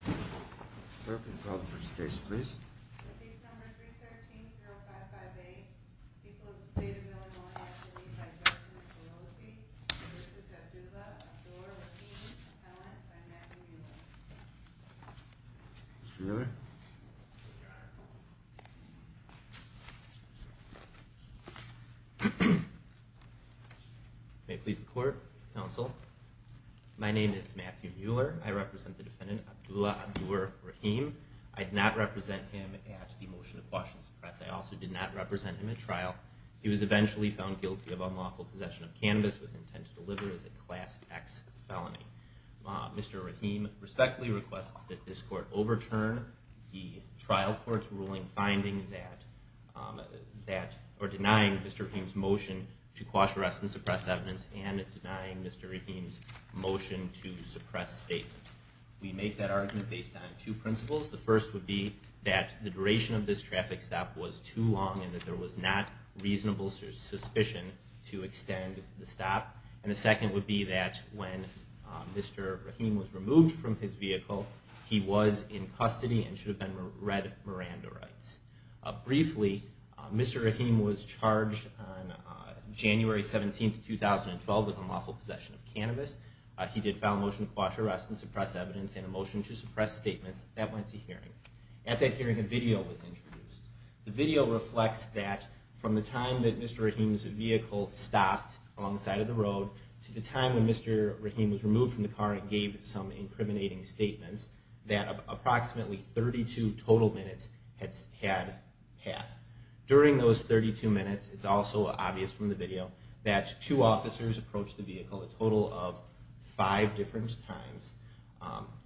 The case number 313-0558, People of the State of Illinois v. Abdur-Rahi, Appellant by Matthew Mueller. Mr. Mueller. May it please the court, counsel. My name is Matthew Mueller. I represent the defendant, Abdullah Abdur-Rahim. I did not represent him at the motion of Washington's press. I also did not represent him at trial. He was eventually found guilty of unlawful possession of cannabis with intent to deliver as a Class X felony. Mr. Rahim respectfully requests that this court overturn the trial court's ruling denying Mr. Rahim's motion to quash, arrest, and suppress evidence and denying Mr. Rahim's motion to suppress statement. We make that argument based on two principles. The first would be that the duration of this traffic stop was too long and that there was not reasonable suspicion to extend the stop. And the second would be that when Mr. Rahim was removed from his vehicle, he was in custody and should have been read Miranda rights. Briefly, Mr. Rahim was charged on January 17, 2012, with unlawful possession of cannabis. He did file a motion to quash, arrest, and suppress evidence and a motion to suppress statements. That went to hearing. At that hearing, a video was introduced. The video reflects that from the time that Mr. Rahim's vehicle stopped along the side of the road to the time when Mr. Rahim was removed from the car and gave some incriminating statements, that approximately 32 total minutes had passed. During those 32 minutes, it's also obvious from the video, that two officers approached the vehicle a total of five different times.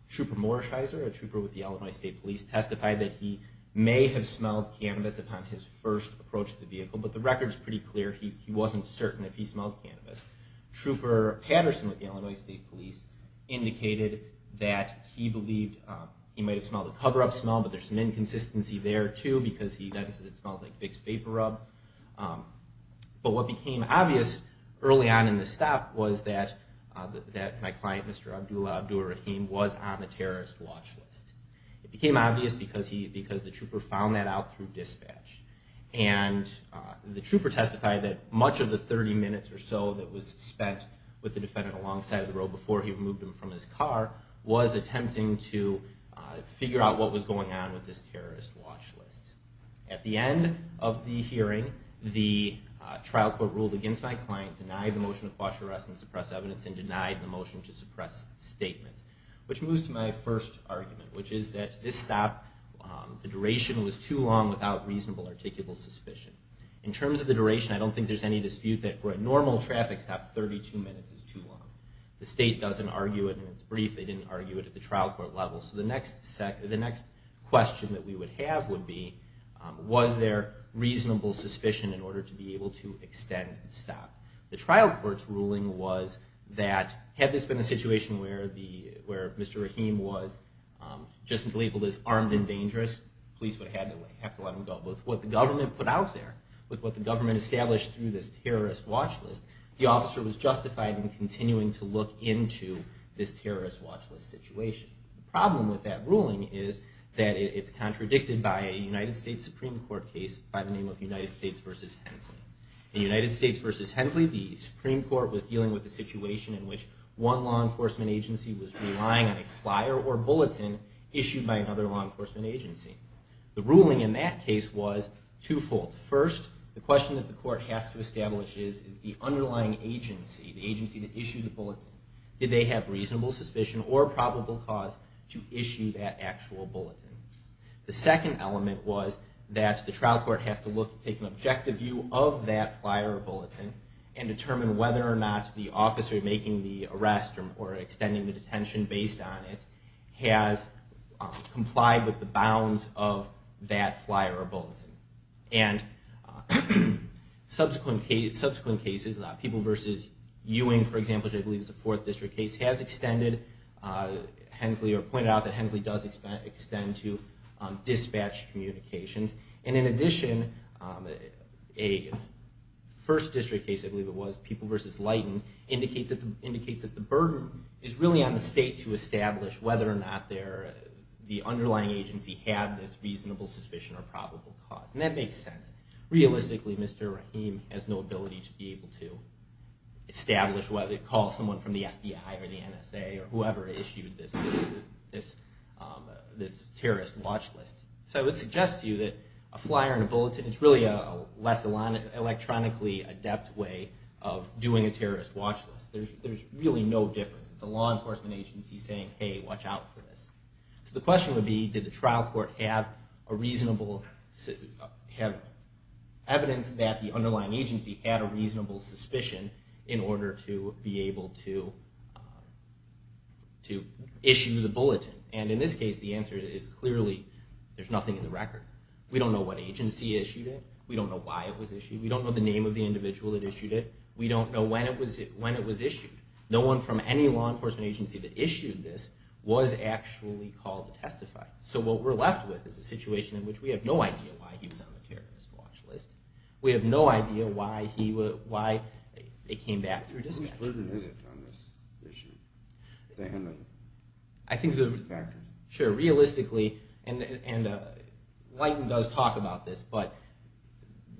Trooper Morsheiser, a trooper with the Illinois State Police, testified that he may have smelled cannabis upon his first approach to the vehicle, but the record is pretty clear he wasn't certain if he smelled cannabis. Trooper Patterson, with the Illinois State Police, indicated that he believed he might have smelled a cover-up smell, but there's some inconsistency there, too, because he notices it smells like fixed vapor rub. But what became obvious early on in the stop was that my client, Mr. Abdul Abdul Rahim, was on the terrorist watch list. It became obvious because the trooper found that out through dispatch. And the trooper testified that much of the 30 minutes or so that was spent with the defendant alongside the road before he removed him from his car was attempting to figure out what was going on with this terrorist watch list. At the end of the hearing, the trial court ruled against my client, denied the motion to quash arrest and suppress evidence, and denied the motion to suppress statement. Which moves to my first argument, which is that this stop, the duration was too long without reasonable or articulable suspicion. In terms of the duration, I don't think there's any dispute that for a normal traffic stop, 32 minutes is too long. The state doesn't argue it, and it's brief, they didn't argue it at the trial court level. So the next question that we would have would be, was there reasonable suspicion in order to be able to extend the stop? The trial court's ruling was that had this been a situation where Mr. Rahim was just labeled as armed and dangerous, police would have to let him go. But with what the government put out there, with what the government established through this terrorist watch list, the officer was justified in continuing to look into this terrorist watch list situation. The problem with that ruling is that it's contradicted by a United States Supreme Court case by the name of United States v. Hensley. In United States v. Hensley, the Supreme Court was dealing with a situation in which one law enforcement agency was relying on a flyer or bulletin issued by another law enforcement agency. The ruling in that case was twofold. First, the question that the court has to establish is, is the underlying agency, the agency that issued the bulletin, did they have reasonable suspicion or probable cause to issue that actual bulletin? The second element was that the trial court has to take an objective view of that flyer or bulletin and determine whether or not the officer making the arrest or extending the detention based on it has complied with the bounds of that flyer or bulletin. And subsequent cases, People v. Ewing, for example, which I believe is a fourth district case, has extended Hensley or pointed out that Hensley does extend to dispatch communications. And in addition, a first district case, I believe it was, People v. Leighton, indicates that the burden is really on the state to establish whether or not the underlying agency had this reasonable suspicion or probable cause. And that makes sense. Realistically, Mr. Rahim has no ability to be able to establish whether to call someone from the FBI or the NSA or whoever issued this terrorist watch list. So I would suggest to you that a flyer and a bulletin is really a less electronically adept way of doing a terrorist watch list. There's really no difference. It's a law enforcement agency saying, hey, watch out for this. So the question would be, did the trial court have evidence that the underlying agency had a reasonable suspicion in order to be able to issue the bulletin? And in this case, the answer is clearly, there's nothing in the record. We don't know what agency issued it. We don't know why it was issued. We don't know the name of the individual that issued it. We don't know when it was issued. No one from any law enforcement agency that issued this was actually called to testify. So what we're left with is a situation in which we have no idea why he was on the terrorist watch list. We have no idea why it came back through dispatch. I think realistically, and Leighton does talk about this, but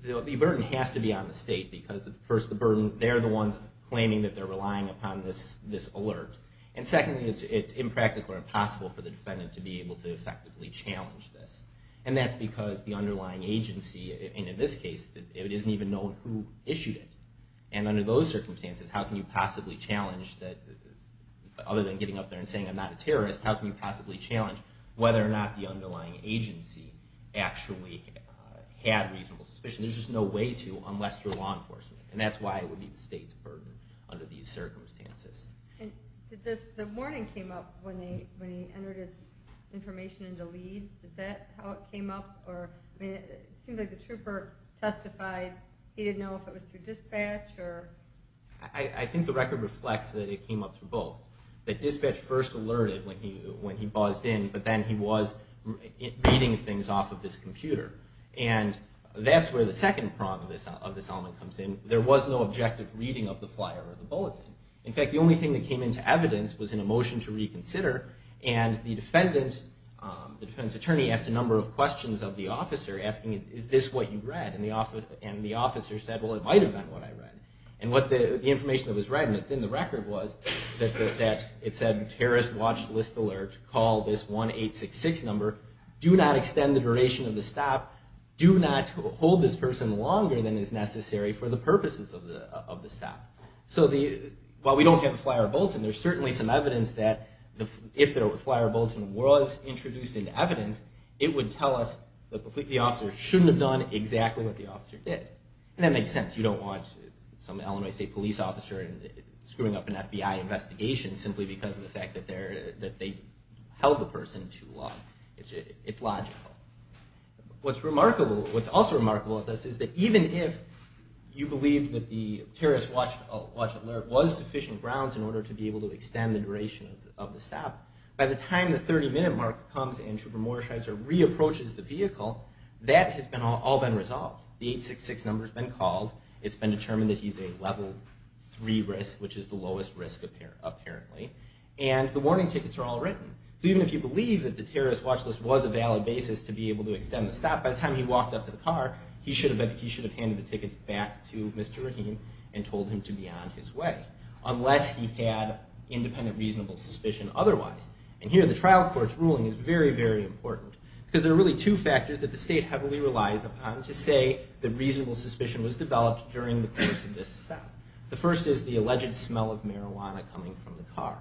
the burden has to be on the state because first, they're the ones claiming that they're relying upon this alert. And secondly, it's impractical or impossible for the defendant to be able to effectively challenge this. And that's because the underlying agency, and in this case, it isn't even known who issued it. And under those circumstances, how can you possibly challenge, other than getting up there and saying I'm not a terrorist, how can you possibly challenge whether or not the underlying agency actually had reasonable suspicion? There's just no way to unless you're law enforcement. And that's why it would be the state's burden under these circumstances. The warning came up when he entered his information into Leighton. Is that how it came up? It seemed like the trooper testified he didn't know if it was through dispatch. I think the record reflects that it came up through both. That dispatch first alerted when he buzzed in, but then he was reading things off of his computer. And that's where the second prong of this element comes in. There was no objective reading of the flyer or the bulletin. In fact, the only thing that came into evidence was in a motion to reconsider. And the defendant's attorney asked a number of questions of the officer asking, is this what you read? And the officer said, well, it might have been what I read. And the information that was read, and it's in the record, was that it said terrorist watch list alert, call this 1-866 number, do not extend the duration of the stop, do not hold this person longer than is necessary for the purposes of the stop. So while we don't have a flyer or bulletin, there's certainly some evidence that if the flyer or bulletin was introduced into evidence, it would tell us that the officer shouldn't have done exactly what the officer did. And that makes sense. You don't want some Illinois State police officer screwing up an FBI investigation simply because of the fact that they held the person too long. It's logical. What's remarkable, what's also remarkable at this is that even if you believe that the terrorist watch alert was sufficient grounds in order to be able to extend the duration of the stop, by the time the 30-minute mark comes and Schubert-Morshiser re-approaches the vehicle, that has all been resolved. The 866 number's been called. It's been determined that he's a level 3 risk, which is the lowest risk apparently. And the warning tickets are all written. So even if you believe that the terrorist watch list was a valid basis to be able to extend the stop, by the time he walked up to the car, he should have handed the tickets back to Mr. Rahim and told him to be on his way, unless he had independent reasonable suspicion otherwise. And here the trial court's ruling is very, very important, because there are really two factors that the state heavily relies upon to say that reasonable suspicion was developed during the course of this stop. The first is the alleged smell of marijuana coming from the car.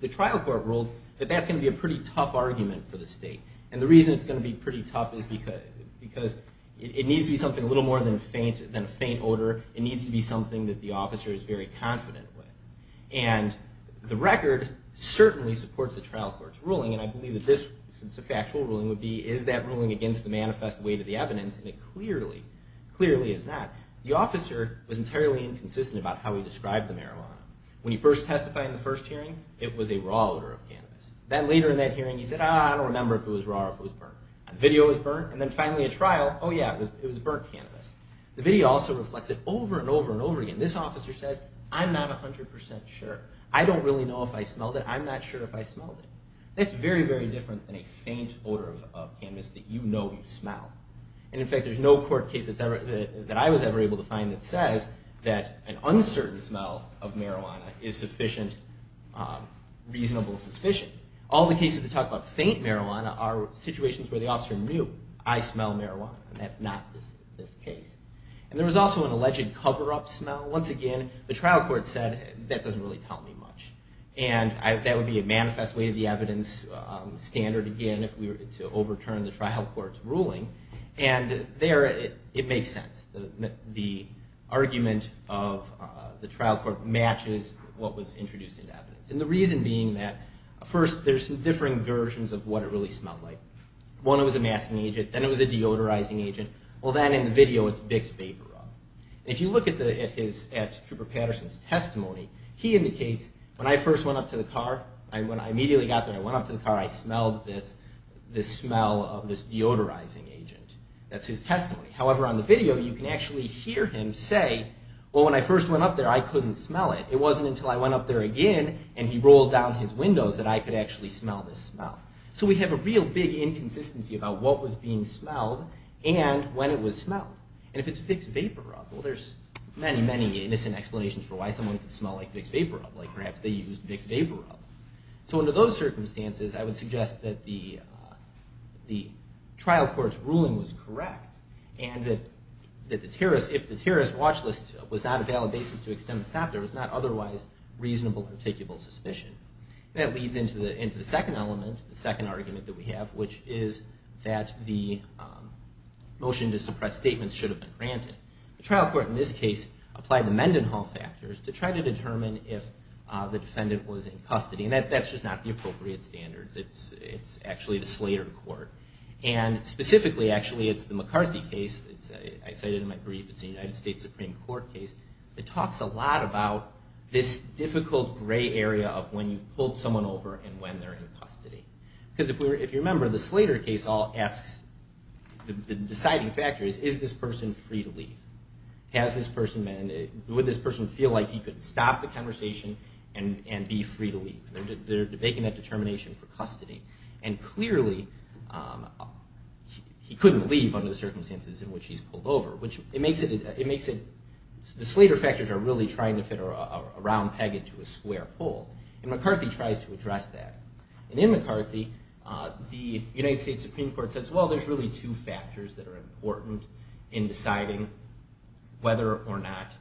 The trial court ruled that that's going to be a pretty tough argument for the state. And the reason it's going to be pretty tough is because it needs to be something a little more than a faint odor. It needs to be something that the officer is very confident with. And the record certainly supports the trial court's ruling, and I believe that this factual ruling would be, is that ruling against the manifest weight of the evidence? And it clearly, clearly is not. The officer was entirely inconsistent about how he described the marijuana. When he first testified in the first hearing, it was a raw odor of cannabis. Then later in that hearing, he said, ah, I don't remember if it was raw or if it was burnt. The video was burnt, and then finally at trial, oh yeah, it was burnt cannabis. The video also reflects it over and over and over again. This officer says, I'm not 100% sure. I don't really know if I smelled it. I'm not sure if I smelled it. That's very, very different than a faint odor of cannabis that you know you smell. And in fact, there's no court case that I was ever able to find that says that an uncertain smell of marijuana is sufficient, reasonable suspicion. All the cases that talk about faint marijuana are situations where the officer knew, I smell marijuana, and that's not this case. And there was also an alleged cover-up smell. Once again, the trial court said, that doesn't really tell me much. And that would be a manifest weight of the evidence standard again if we were to overturn the trial court's ruling. And there, it makes sense. The argument of the trial court matches what was introduced into evidence. And the reason being that, first, there's some differing versions of what it really smelled like. One, it was a masking agent. Then it was a deodorizing agent. Well, then in the video, it's Vicks Vaporub. And if you look at Cooper Patterson's testimony, he indicates, when I first went up to the car, when I immediately got there, I went up to the car, I smelled this smell of this deodorizing agent. That's his testimony. However, on the video, you can actually hear him say, well, when I first went up there, I couldn't smell it. It wasn't until I went up there again and he rolled down his windows that I could actually smell this smell. So we have a real big inconsistency about what was being smelled and when it was smelled. And if it's Vicks Vaporub, well, there's many, many innocent explanations for why someone could smell like Vicks Vaporub, like perhaps they used Vicks Vaporub. So under those circumstances, I would suggest that the trial court's ruling was correct and that if the terrorist watch list was not a valid basis to extend the stop, there was not otherwise reasonable, particular suspicion. That leads into the second element, the second argument that we have, which is that the motion to suppress statements should have been granted. The trial court in this case applied the Mendenhall factors to try to determine if the defendant was in custody. And that's just not the appropriate standards. It's actually the Slater court. And specifically, actually, it's the McCarthy case. I cited it in my brief. It's a United States Supreme Court case that talks a lot about this difficult gray area of when you've pulled someone over and when they're in custody. Because if you remember, the Slater case all asks, the deciding factor is, is this person free to leave? Would this person feel like he could stop the conversation and be free to leave? They're making that determination for custody. And clearly, he couldn't leave under the circumstances in which he's pulled over. The Slater factors are really trying to fit a round peg into a square hole. And McCarthy tries to address that. And in McCarthy, the United States Supreme Court says, well, there's really two factors that are important in deciding whether or not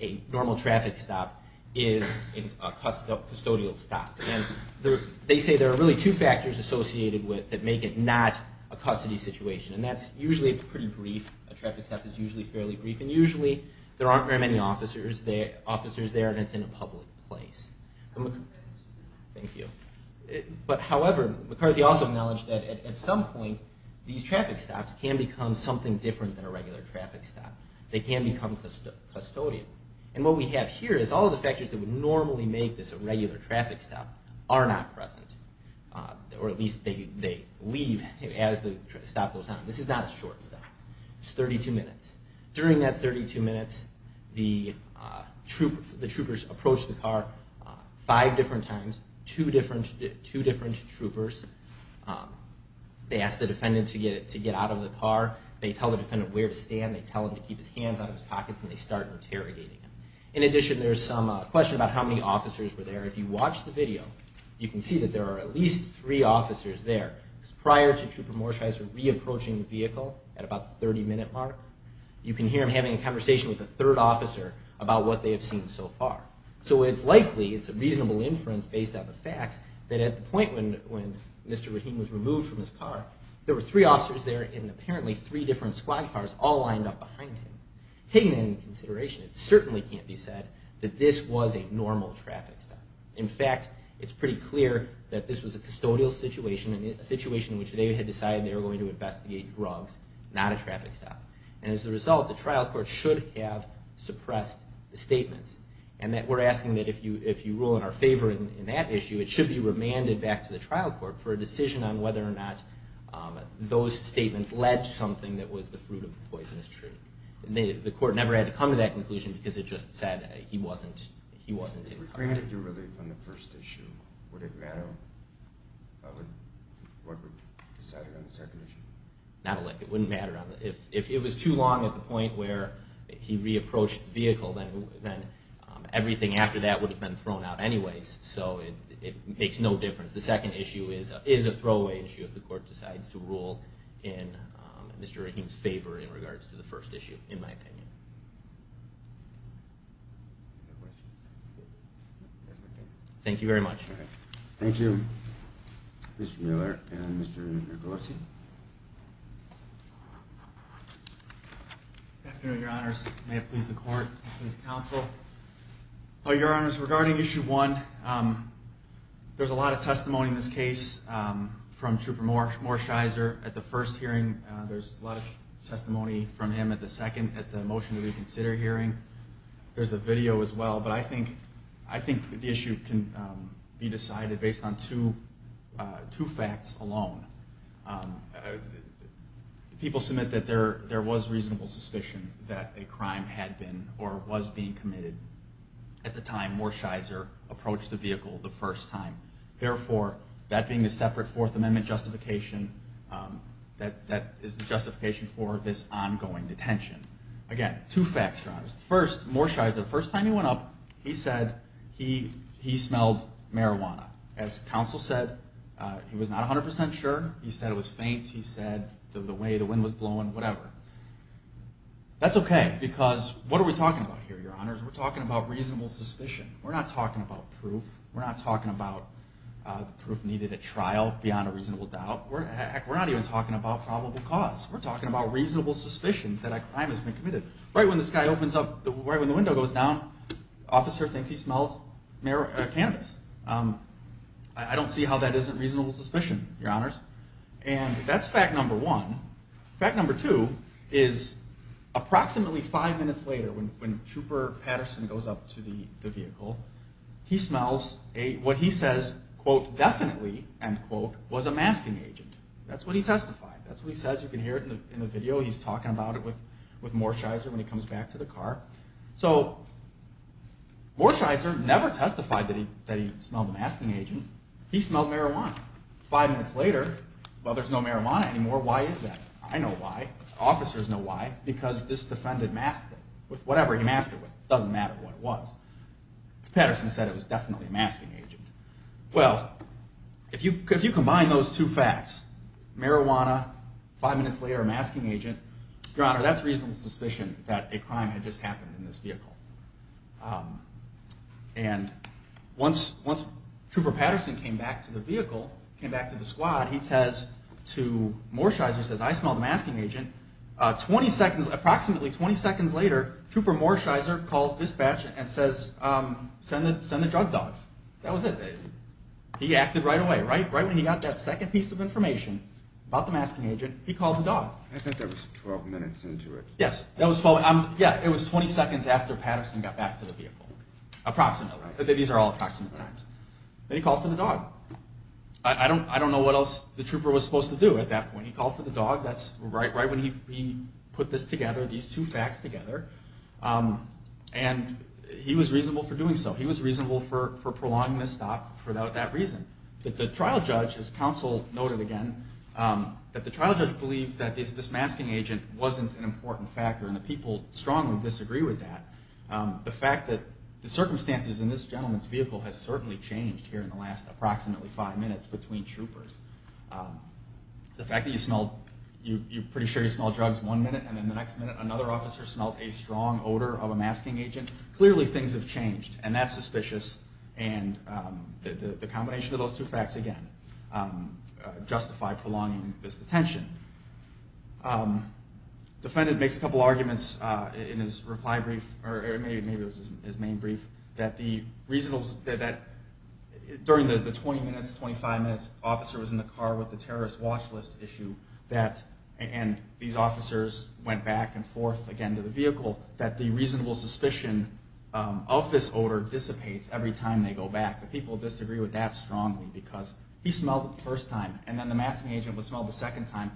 a normal traffic stop is a custodial stop. And they say there are really two factors associated with it that make it not a custody situation. And usually, it's pretty brief. A traffic stop is usually fairly brief. And usually, there aren't very many officers there. And it's in a public place. Thank you. But however, McCarthy also acknowledged that at some point, these traffic stops can become something different than a regular traffic stop. They can become custodial. And what we have here is all of the factors that would normally make this a regular traffic stop are not present. Or at least, they leave as the stop goes on. This is not a short stop. It's 32 minutes. During that 32 minutes, the troopers approach the car five different times, two different troopers. They ask the defendant to get out of the car. They tell the defendant where to stand. They tell him to keep his hands out of his pockets. And they start interrogating him. In addition, there's some question about how many officers were there. If you watch the video, you can see that there are at least three officers there. Prior to Trooper Morsheiser re-approaching the vehicle at about the 30-minute mark, you can hear him having a conversation with the third officer about what they have seen so far. So it's likely, it's a reasonable inference based on the facts, that at the point when Mr. Rahim was removed from his car, there were three officers there and apparently three different squad cars all lined up behind him. Taking that into consideration, it certainly can't be said that this was a normal traffic stop. In fact, it's pretty clear that this was a custodial situation, a situation in which they had decided they were going to investigate drugs, not a traffic stop. And as a result, the trial court should have suppressed the statements and that we're asking that if you rule in our favor in that issue, it should be remanded back to the trial court for a decision on whether or not those statements led to something that was the fruit of the poisonous tree. The court never had to come to that conclusion because it just said he wasn't in custody. If he was granted relief on the first issue, would it matter what would be decided on the second issue? Not a lick. It wouldn't matter. If it was too long at the point where he re-approached the vehicle, then everything after that would have been thrown out anyways. So it makes no difference. The second issue is a throwaway issue if the court decides to rule in Mr. Rahim's favor in regards to the first issue, in my opinion. Thank you very much. Thank you, Mr. Miller and Mr. Nogose. Good afternoon, Your Honors. May it please the court, please counsel. Well, Your Honors, regarding issue one, there's a lot of testimony in this case from Trooper Morsheiser at the first hearing. There's a lot of testimony from him at the second, at the motion to reconsider hearing. There's a video as well, but I think the issue can be decided based on two facts alone. People submit that there was reasonable suspicion that a crime had been or was being committed at the time Morsheiser approached the vehicle the first time. Therefore, that being the separate Fourth Amendment justification, that is the justification for this ongoing detention. Again, two facts, Your Honors. First, Morsheiser, the first time he went up, he said he smelled marijuana. As counsel said, he was not 100% sure. He said it was faint. He said the way the wind was blowing, whatever. That's okay, because what are we talking about here, Your Honors? We're talking about reasonable suspicion. We're not talking about proof. We're not talking about proof needed at trial beyond a reasonable doubt. Heck, we're not even talking about probable cause. We're talking about reasonable suspicion that a crime has been committed. Right when this guy opens up, right when the window goes down, the officer thinks he smells cannabis. I don't see how that isn't reasonable suspicion, Your Honors. And that's fact number one. Fact number two is approximately five minutes later, when Trooper Patterson goes up to the vehicle, he smells what he says, quote, definitely, end quote, was a masking agent. That's what he testified. That's what he says. You can hear it in the video. He's talking about it with Morsheiser when he comes back to the car. So Morsheiser never testified that he smelled a masking agent. He smelled marijuana. Five minutes later, well, there's no marijuana anymore. Why is that? I know why. Officers know why. Because this defendant masked it with whatever he masked it with. It doesn't matter what it was. Patterson said it was definitely a masking agent. Well, if you combine those two facts, marijuana, five minutes later, masking agent, Your Honor, that's reasonable suspicion that a crime had just happened in this vehicle. And once Trooper Patterson came back to the vehicle, came back to the squad, he says to Morsheiser, says, I smelled a masking agent. Approximately 20 seconds later, Trooper Morsheiser calls dispatch and says, send the drug dogs. That was it. He acted right away. Right when he got that second piece of information about the masking agent, he called the dog. I think that was 12 minutes into it. Yes. It was 20 seconds after Patterson got back to the vehicle. Approximately. These are all approximate times. Then he called for the dog. I don't know what else the trooper was supposed to do at that point. He called for the dog. That's right when he put this together, these two facts together. And he was reasonable for doing so. He was reasonable for prolonging the stop for that reason. The trial judge, as counsel noted again, that the trial judge believed that this masking agent wasn't an important factor. And the people strongly disagree with that. The fact that the circumstances in this gentleman's vehicle has certainly changed here in the last approximately five minutes between troopers. The fact that you smell, you're pretty sure you smell drugs one minute, and then the next minute another officer smells a strong odor of a masking agent, clearly things have changed. And that's suspicious. And the combination of those two facts, again, justify prolonging this detention. Defendant makes a couple arguments in his reply brief, or maybe it was his main brief, that during the 20 minutes, 25 minutes the officer was in the car with the terrorist watch list issue, and these officers went back and forth again to the vehicle, that the reasonable suspicion of this odor dissipates every time they go back. The people disagree with that strongly, because he smelled it the first time, and then the masking agent would smell it the second time.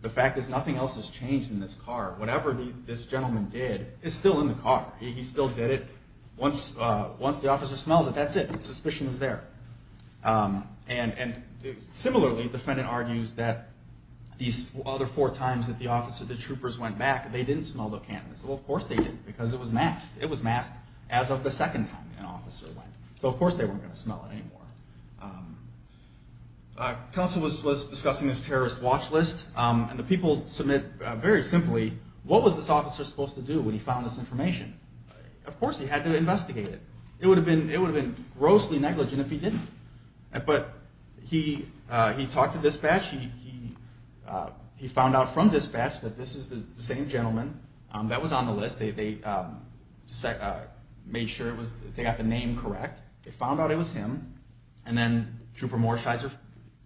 The fact is nothing else has changed in this car. Whatever this gentleman did is still in the car. He still did it. Once the officer smells it, that's it. Suspicion is there. And similarly, defendant argues that these other four times that the troopers went back, they didn't smell the cannabis. Well, of course they didn't, because it was masked. It was masked as of the second time an officer went. So of course they weren't going to smell it anymore. Counsel was discussing this terrorist watch list, and the people submit very simply, what was this officer supposed to do when he found this information? Of course he had to investigate it. It would have been grossly negligent if he didn't. But he talked to dispatch. He found out from dispatch that this is the same gentleman that was on the list. They made sure they got the name correct. They found out it was him. And then Trooper Morsheiser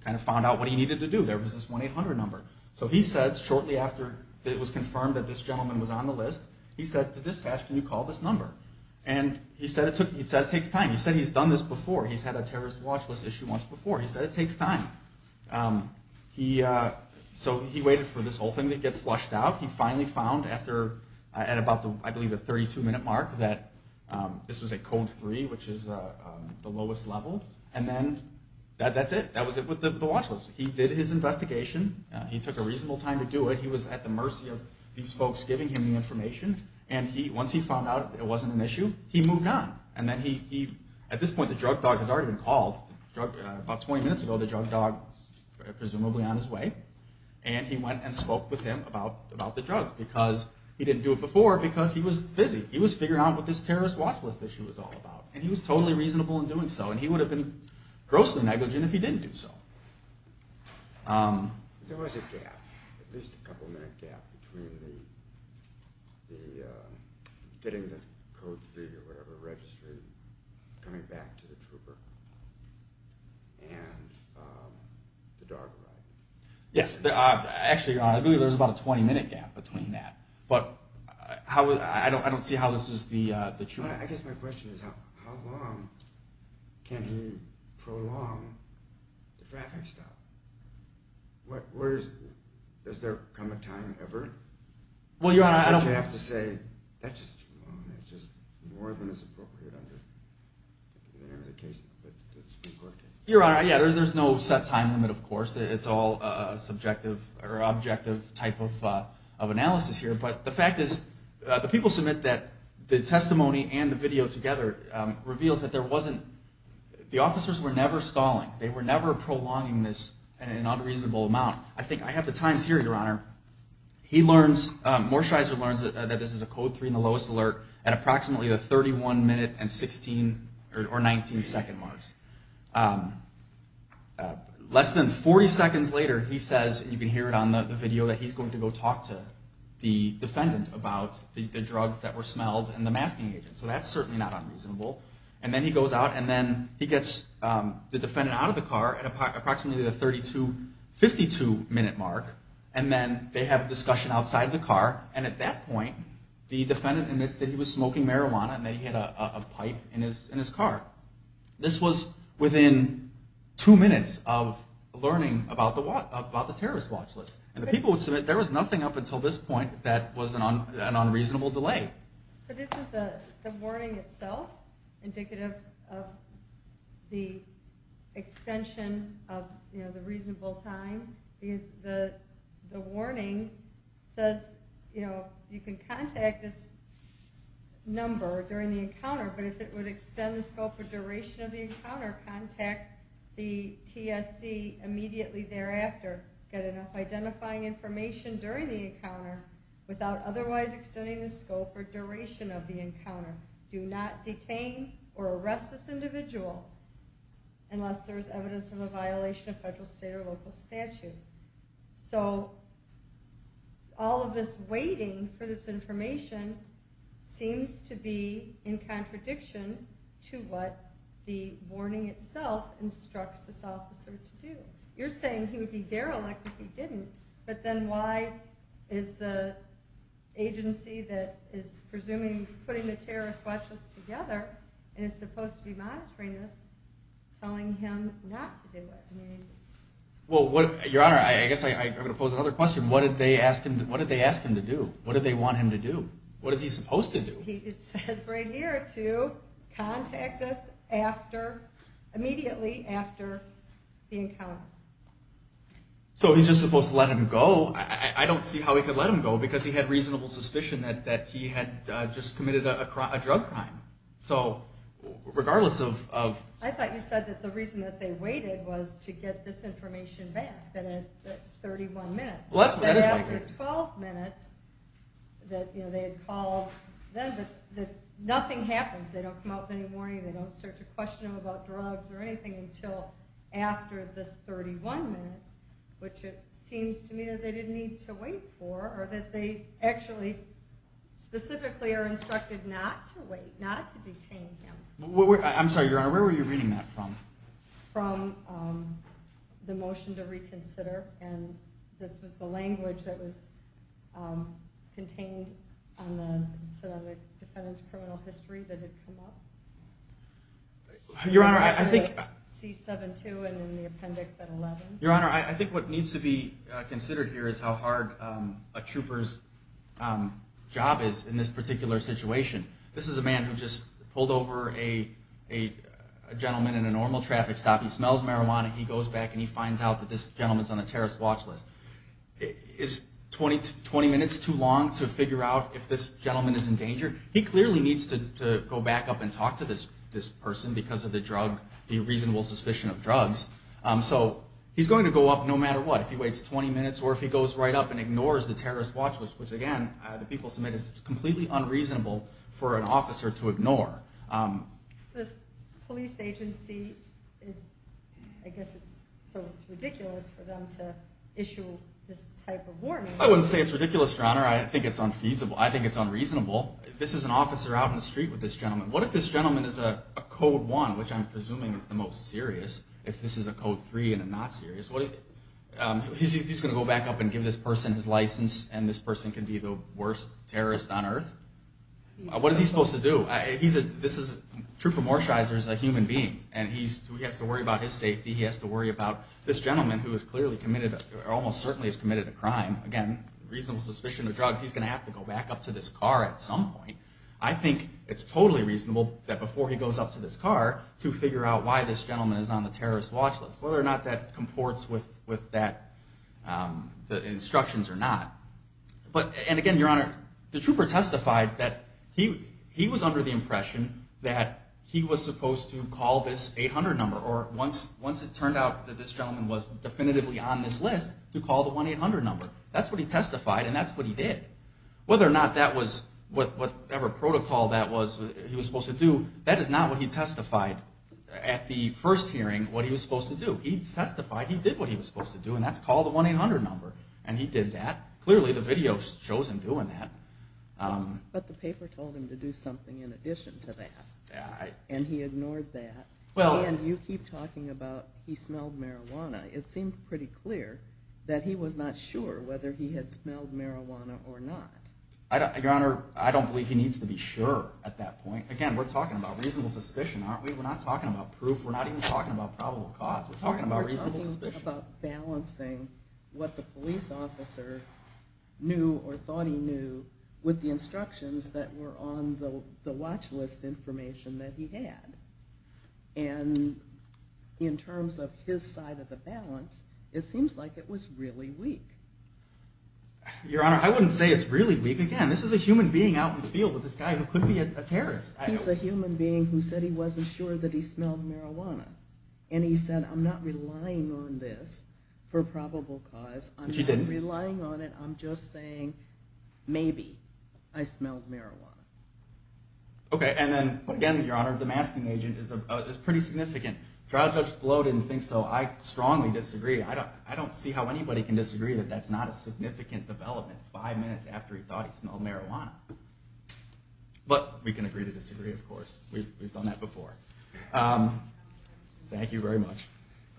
kind of found out what he needed to do. There was this 1-800 number. So he said shortly after it was confirmed that this gentleman was on the list, he said to dispatch, can you call this number? And he said it takes time. He said he's done this before. He's had a terrorist watch list issue once before. He said it takes time. So he waited for this whole thing to get flushed out. He finally found at about the 32-minute mark that this was at code 3, which is the lowest level. And then that's it. That was it with the watch list. He did his investigation. He took a reasonable time to do it. He was at the mercy of these folks giving him the information. And once he found out it wasn't an issue, he moved on. At this point, the drug dog has already been called. About 20 minutes ago, the drug dog was presumably on his way. And he went and spoke with him about the drugs, because he didn't do it before because he was busy. He was figuring out what this terrorist watch list issue was all about. And he was totally reasonable in doing so. And he would have been grossly negligent if he didn't do so. There was a gap, at least a couple-minute gap, between getting the code 3 or whatever registered, coming back to the trooper, and the dog ride. Yes. Actually, you're right. I believe there was about a 20-minute gap between that. But I don't see how this is the truth. I guess my question is, how long can he prolong the traffic stop? Does there come a time ever? You have to say, that's just too long. It's just more than is appropriate under the Supreme Court case. Your Honor, there's no set time limit, of course. It's all subjective or objective type of analysis here. But the fact is, the people submit that the testimony and the video together reveals that there wasn't... The officers were never stalling. They were never prolonging this in an unreasonable amount. I think I have the times here, Your Honor. Morsheiser learns that this is a code 3 and the lowest alert at approximately the 31-minute and 19-second marks. Less than 40 seconds later, he says, you can hear it on the video, that he's going to go talk to the defendant about the drugs that were smelled and the masking agent. So that's certainly not unreasonable. And then he goes out and then he gets the defendant out of the car at approximately the 32-52 minute mark. And then they have a discussion outside the car. And at that point, the defendant admits that he was smoking marijuana and that he had a pipe in his car. This was within two minutes of learning about the terrorist watch list. And the people would submit that there was nothing up until this point that was an unreasonable delay. But this is the warning itself, indicative of the extension of the reasonable time. The warning says you can contact this number during the encounter, but if it would extend the scope or duration of the encounter, contact the TSC immediately thereafter. Get enough identifying information during the encounter without otherwise extending the scope or duration of the encounter. Do not detain or arrest this individual unless there is evidence of a violation of federal, state, or local statute. So all of this waiting for this information seems to be in contradiction to what the warning itself says. You're saying he would be derelict if he didn't. But then why is the agency that is presuming putting the terrorist watch list together, and is supposed to be monitoring this, telling him not to do it? Your Honor, I guess I'm going to pose another question. What did they ask him to do? What did they want him to do? What is he supposed to do? He says right here to contact us immediately after the encounter. So he's just supposed to let him go? I don't see how he could let him go because he had reasonable suspicion that he had just committed a drug crime. So regardless of... I thought you said that the reason that they waited was to get this information back within 31 minutes. Well, that is what they did. Nothing happens. They don't come out with any warning. They don't start to question him about drugs or anything until after this 31 minutes, which it seems to me that they didn't need to wait for or that they actually specifically are instructed not to wait, not to detain him. I'm sorry, Your Honor, where were you reading that from? From the motion to reconsider, and this was the language that was contained on the defendant's criminal history that had come up. Your Honor, I think what needs to be considered here is how hard a trooper's job is in this particular situation. This is a man who just pulled over a gentleman in a normal traffic stop. He smells marijuana. He goes back and he finds out that this gentleman's on a terrorist watch list. Is 20 minutes too long to figure out if this gentleman is in danger? He clearly needs to go back up and talk to this person because of the reasonable suspicion of drugs. So he's going to go up no matter what. If he waits 20 minutes or if he goes right up and ignores the terrorist watch list, which again, the people submit is completely unreasonable for an officer to ignore. This police agency, I guess it's ridiculous for them to issue this type of warning. I wouldn't say it's ridiculous, Your Honor. I think it's unreasonable. This is an officer out in the street with this gentleman. What if this gentleman is a code one, which I'm presuming is the most serious? If this is a code three and a not serious, he's going to go back up and give this person his license and this person can be the worst terrorist on earth? What is he supposed to do? Trooper Morsheiser is a human being and he has to worry about his safety. He has to worry about this gentleman who almost certainly has committed a crime. Again, reasonable suspicion of drugs. He's going to have to go back up to this car at some point. I think it's totally reasonable that before he goes up to this car to figure out why this gentleman is on the terrorist watch list, whether or not that comports with the instructions or not. And again, Your Honor, the trooper testified that he was under the impression that he was supposed to call this 800 number or once it turned out that this gentleman was definitively on this list, to call the 1-800 number. That's what he testified and that's what he did. Whether or not that was whatever protocol he was supposed to do, that is not what he testified at the first hearing, what he was supposed to do. He testified he did what he was supposed to do and that's call the 1-800 number. And he did that. Clearly the video shows him doing that. But the paper told him to do something in addition to that and he ignored that. And you keep talking about he smelled marijuana. It seemed pretty clear that he was not sure whether he had smelled marijuana or not. Your Honor, I don't believe he needs to be sure at that point. Again, we're talking about reasonable suspicion, aren't we? We're not talking about proof. We're not even talking about probable cause. We're talking about reasonable suspicion. We're talking about balancing what the police officer knew or thought he knew with the instructions that were on the watch list information that he had. And in terms of his side of the balance, it seems like it was really weak. Your Honor, I wouldn't say it's really weak. Again, this is a human being out in the field with this guy who could be a terrorist. He's a human being who said he wasn't sure that he smelled marijuana. And he said, I'm not relying on this for probable cause. I'm not relying on it. I'm just saying maybe I smelled marijuana. Okay. And then again, Your Honor, the masking agent is pretty significant. Trial Judge Blow didn't think so. I strongly disagree. I don't see how anybody can disagree that that's not a significant development five minutes after he thought he smelled marijuana. But we can agree to disagree, of course. We've done that before. Thank you very much.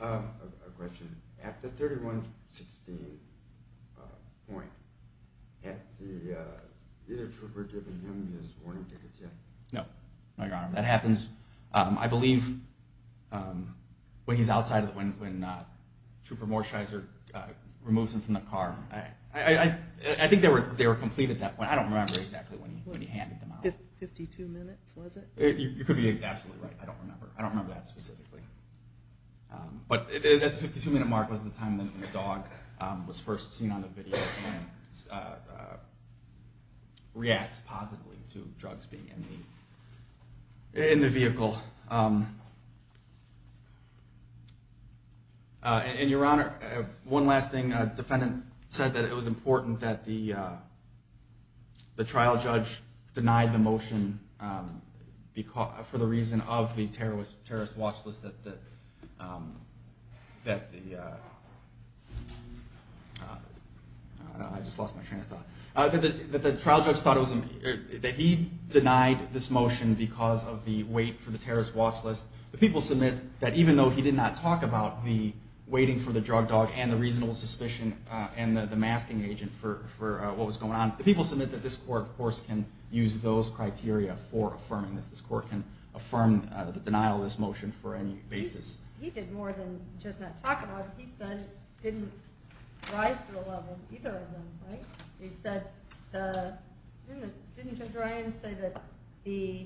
A question. At the 31-16 point, is the trooper giving him his warning tickets yet? No, Your Honor. That happens, I believe, when he's outside, when Trooper Morsheiser removes him from the car. I think they were completed at that point. I don't remember exactly when he handed them out. 52 minutes, was it? You could be absolutely right. I don't remember. I don't remember that specifically. But at the 52-minute mark was the time that the dog was first seen on the video and reacts positively to drugs being in the vehicle. And Your Honor, one last thing. The defendant said that it was important that the trial judge denied the motion for the reason of the terrorist watch list that the... I just lost my train of thought. The trial judge thought that he denied this motion because of the wait for the terrorist watch list. The people submit that even though he did not talk about the waiting for the drug dog and the reasonable suspicion and the masking agent for what was going on, the people submit that this court, of course, can use those criteria for affirming this. This court can affirm the denial of this motion for any basis. He did more than just not talk about it. He said it didn't rise to the level of either of them, right? He said, didn't the dry-in say that the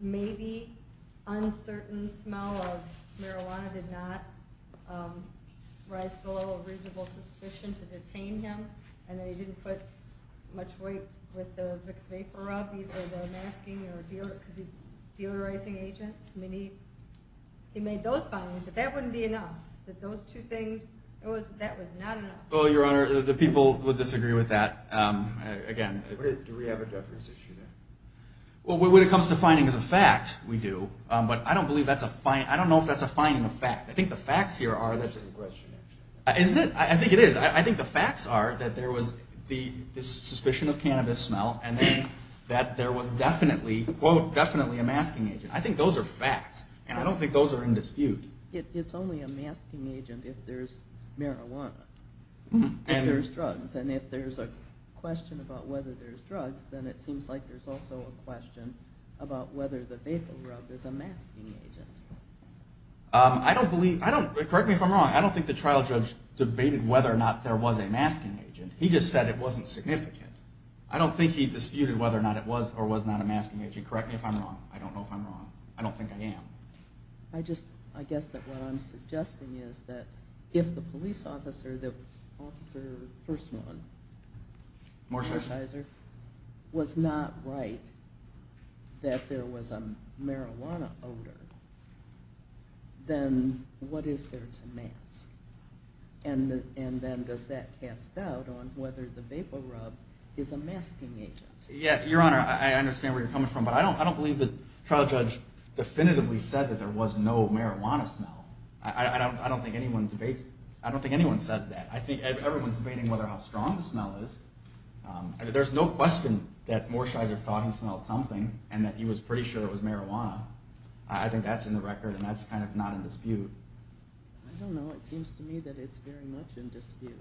maybe uncertain smell of marijuana did not rise to the level of reasonable suspicion to detain him? And that he didn't put much weight with the mixed vapor rub, either the masking or deodorizing agent? He made those findings, that that wouldn't be enough. Well, Your Honor, the people would disagree with that. When it comes to findings of fact, we do. But I don't know if that's a finding of fact. I think the facts here are... I think the facts are that there was the suspicion of cannabis smell and that there was definitely, quote, definitely a masking agent. I think those are facts. And I don't think those are in dispute. It's only a masking agent if there's marijuana. If there's drugs. And if there's a question about whether there's drugs, then it seems like there's also a question about whether the vapor rub is a masking agent. I don't believe, correct me if I'm wrong, I don't think the trial judge debated whether or not there was a masking agent. He just said it wasn't significant. I don't think he disputed whether or not it was or was not a masking agent. Correct me if I'm wrong. I don't know if I'm wrong. I don't think I am. I guess that what I'm suggesting is that if the police officer, the officer, first one, was not right that there was a marijuana odor, then what is there to mask? And then does that cast doubt on whether the vapor rub is a masking agent? Yes, Your Honor, I understand where you're coming from, but I don't believe the trial judge definitively said that there was no marijuana smell. I don't think anyone says that. I think everyone's debating how strong the smell is. There's no question that Morsheiser thought he smelled something and that he was pretty sure it was marijuana. I think that's in the record and that's kind of not in dispute. I don't know. It seems to me that it's very much in dispute.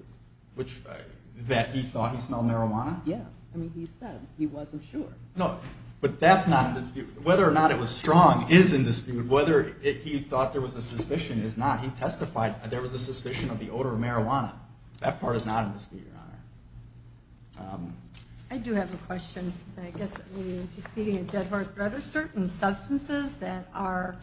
That he thought he smelled marijuana? Yeah. I mean, he said he wasn't sure. No, but that's not in dispute. Whether or not it was strong is in dispute. Whether he thought there was a suspicion is not. He testified there was a suspicion of the odor of marijuana. That part is not in dispute, Your Honor. I do have a question. I guess, is he speaking of Dead Horse Bread or certain substances that are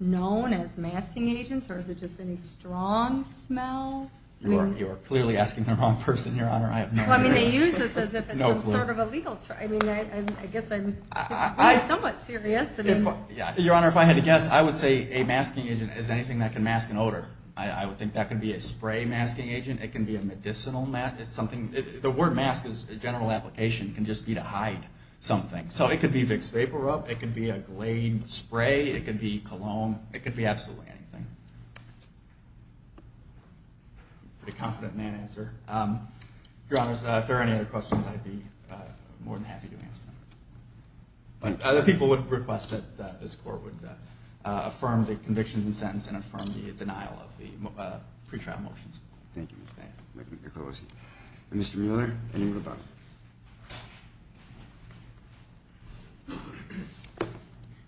known as masking agents? Or is it just any strong smell? You are clearly asking the wrong person, Your Honor. Well, I mean, they use this as if it's some sort of a legal term. I mean, I guess I'm somewhat serious. Your Honor, if I had to guess, I would say a masking agent is anything that can mask an odor. I would think that could be a spray masking agent. It can be a medicinal mask. The word mask, as a general application, can just be to hide something. So it could be Vicks VapoRub. It could be a Glade spray. It could be cologne. It could be absolutely anything. I'm pretty confident in that answer. Your Honor, if there are any other questions, I'd be more than happy to answer them. Other people would request that this Court would affirm the conviction and sentence and affirm the denial of the pretrial motions. Thank you for that. Mr. Mueller, anything to add?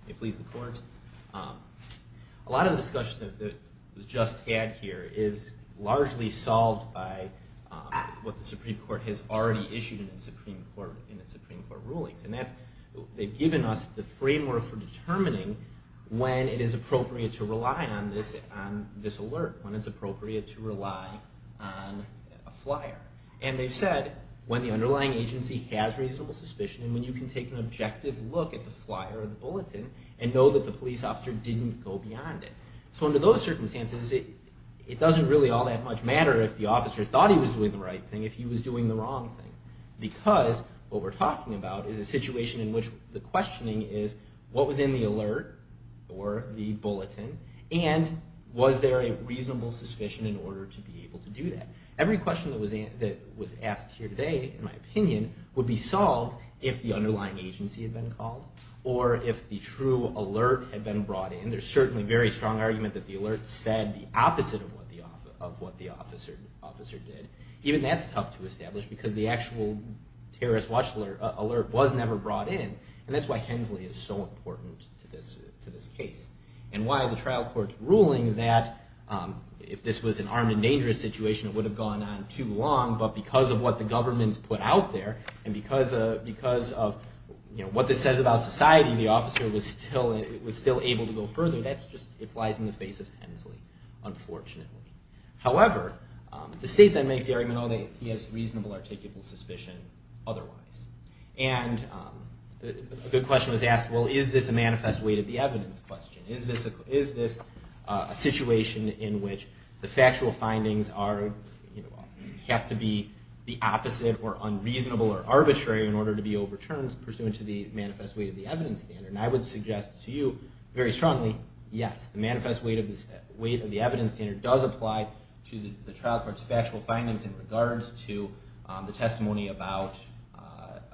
May it please the Court? A lot of the discussion that was just had here is largely solved by what the Supreme Court has already issued in its Supreme Court rulings. They've given us the framework for determining when it is appropriate to rely on this alert, when it's appropriate to rely on a flyer. And they've said when the underlying agency has reasonable suspicion and when you can take an objective look at the flyer or the bulletin and know that the police officer didn't go beyond it. So under those circumstances, it doesn't really all that much matter if the officer thought he was doing the right thing if he was doing the wrong thing. Because what we're talking about is a situation in which the questioning is what was in the alert or the bulletin and was there a reasonable suspicion in order to be able to do that. Every question that was asked here today, in my opinion, would be solved if the underlying agency had been called or if the true alert had been brought in. And there's certainly very strong argument that the alert said the opposite of what the officer did. Even that's tough to establish because the actual terrorist alert was never brought in. And that's why Hensley is so important to this case. And why the trial court's ruling that if this was an armed and dangerous situation, it would have gone on too long. But because of what the government's put out there and because of what this says about society, the officer was still able to go further. That just lies in the face of Hensley, unfortunately. However, the state then makes the argument that he has reasonable articulable suspicion otherwise. And a good question was asked, well, is this a manifest weight of the evidence question? Is this a situation in which the factual findings have to be the opposite or unreasonable or arbitrary in order to be overturned pursuant to the manifest weight of the evidence standard? And I would suggest to you very strongly, yes, the manifest weight of the evidence standard does apply to the trial court's question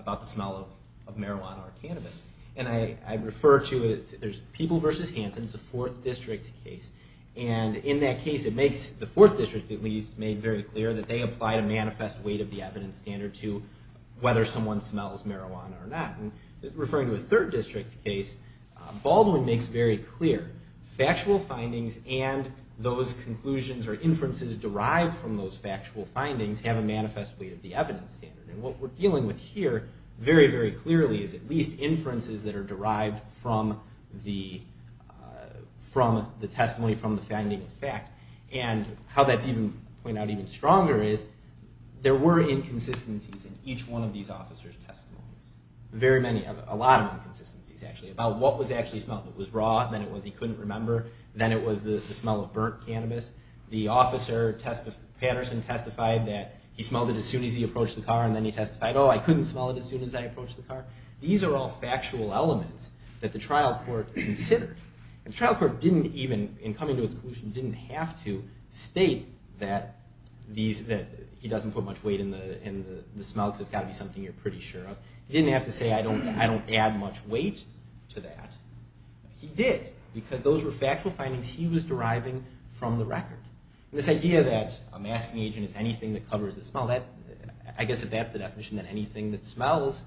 about the smell of marijuana or cannabis. And I refer to it, there's People v. Hanson, it's a 4th District case. And in that case it makes the 4th District at least make very clear that they apply a manifest weight of the evidence standard to whether someone smells marijuana or not. Referring to a 3rd District case, Baldwin makes very clear factual findings and those conclusions or inferences derived from those factual findings have a manifest weight of the evidence standard. And what we're dealing with here very, very clearly is at least inferences that are derived from the testimony, from the finding of fact. And how that's even pointed out even stronger is there were inconsistencies in each one of these officers' testimonies. Very many, a lot of inconsistencies actually about what was actually smelled. It was raw, then it was he couldn't remember, then it was the smell of burnt cannabis. The officer, Patterson, testified that he smelled it as soon as he approached the car and then he testified, oh, I couldn't smell it as soon as I approached the car. These are all factual elements that the trial court considered. And the trial court didn't even, in coming to its conclusion, didn't have to state that he doesn't put much weight in the smell because it's got to be something you're pretty sure of. He didn't have to say, I don't add much weight to that. He did, because those were factual findings he was deriving from the record. This idea that a masking agent is anything that covers the smell, I guess if that's the definition, then anything that smells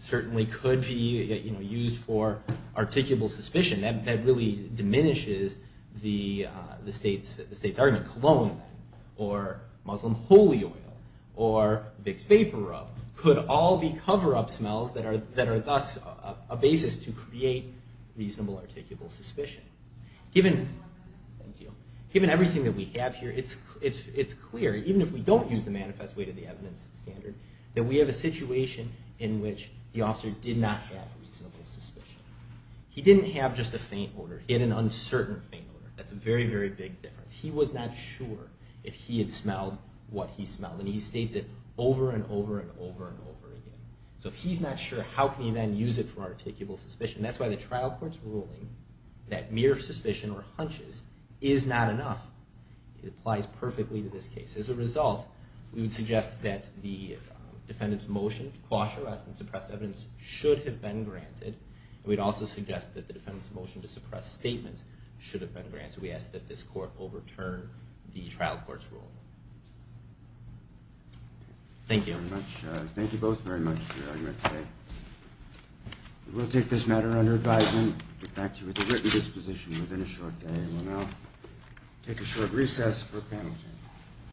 certainly could be used for articulable suspicion. That really diminishes the state's argument. Cologne or Muslim holy oil or Vicks Vaporub could all be cover-up smells that are thus a basis to create reasonable articulable suspicion. Given everything that we have here, it's clear, even if we don't use the manifest weight of the evidence standard, that we have a situation in which the officer did not have reasonable suspicion. He didn't have just a faint odor. He had an uncertain faint odor. That's a very, very big difference. He was not sure if he had smelled what he smelled. And he states it over and over and over and over again. So if he's not sure, how can he then use it for articulable suspicion? That's why the trial court's ruling that mere suspicion or hunches is not enough. It applies perfectly to this case. As a result, we would suggest that the defendant's motion to quash arrest and suppress evidence should have been granted. We'd also suggest that the defendant's motion to suppress statements should have been granted. So we ask that this court overturn the trial court's rule. Thank you. We'll take this matter under advisement.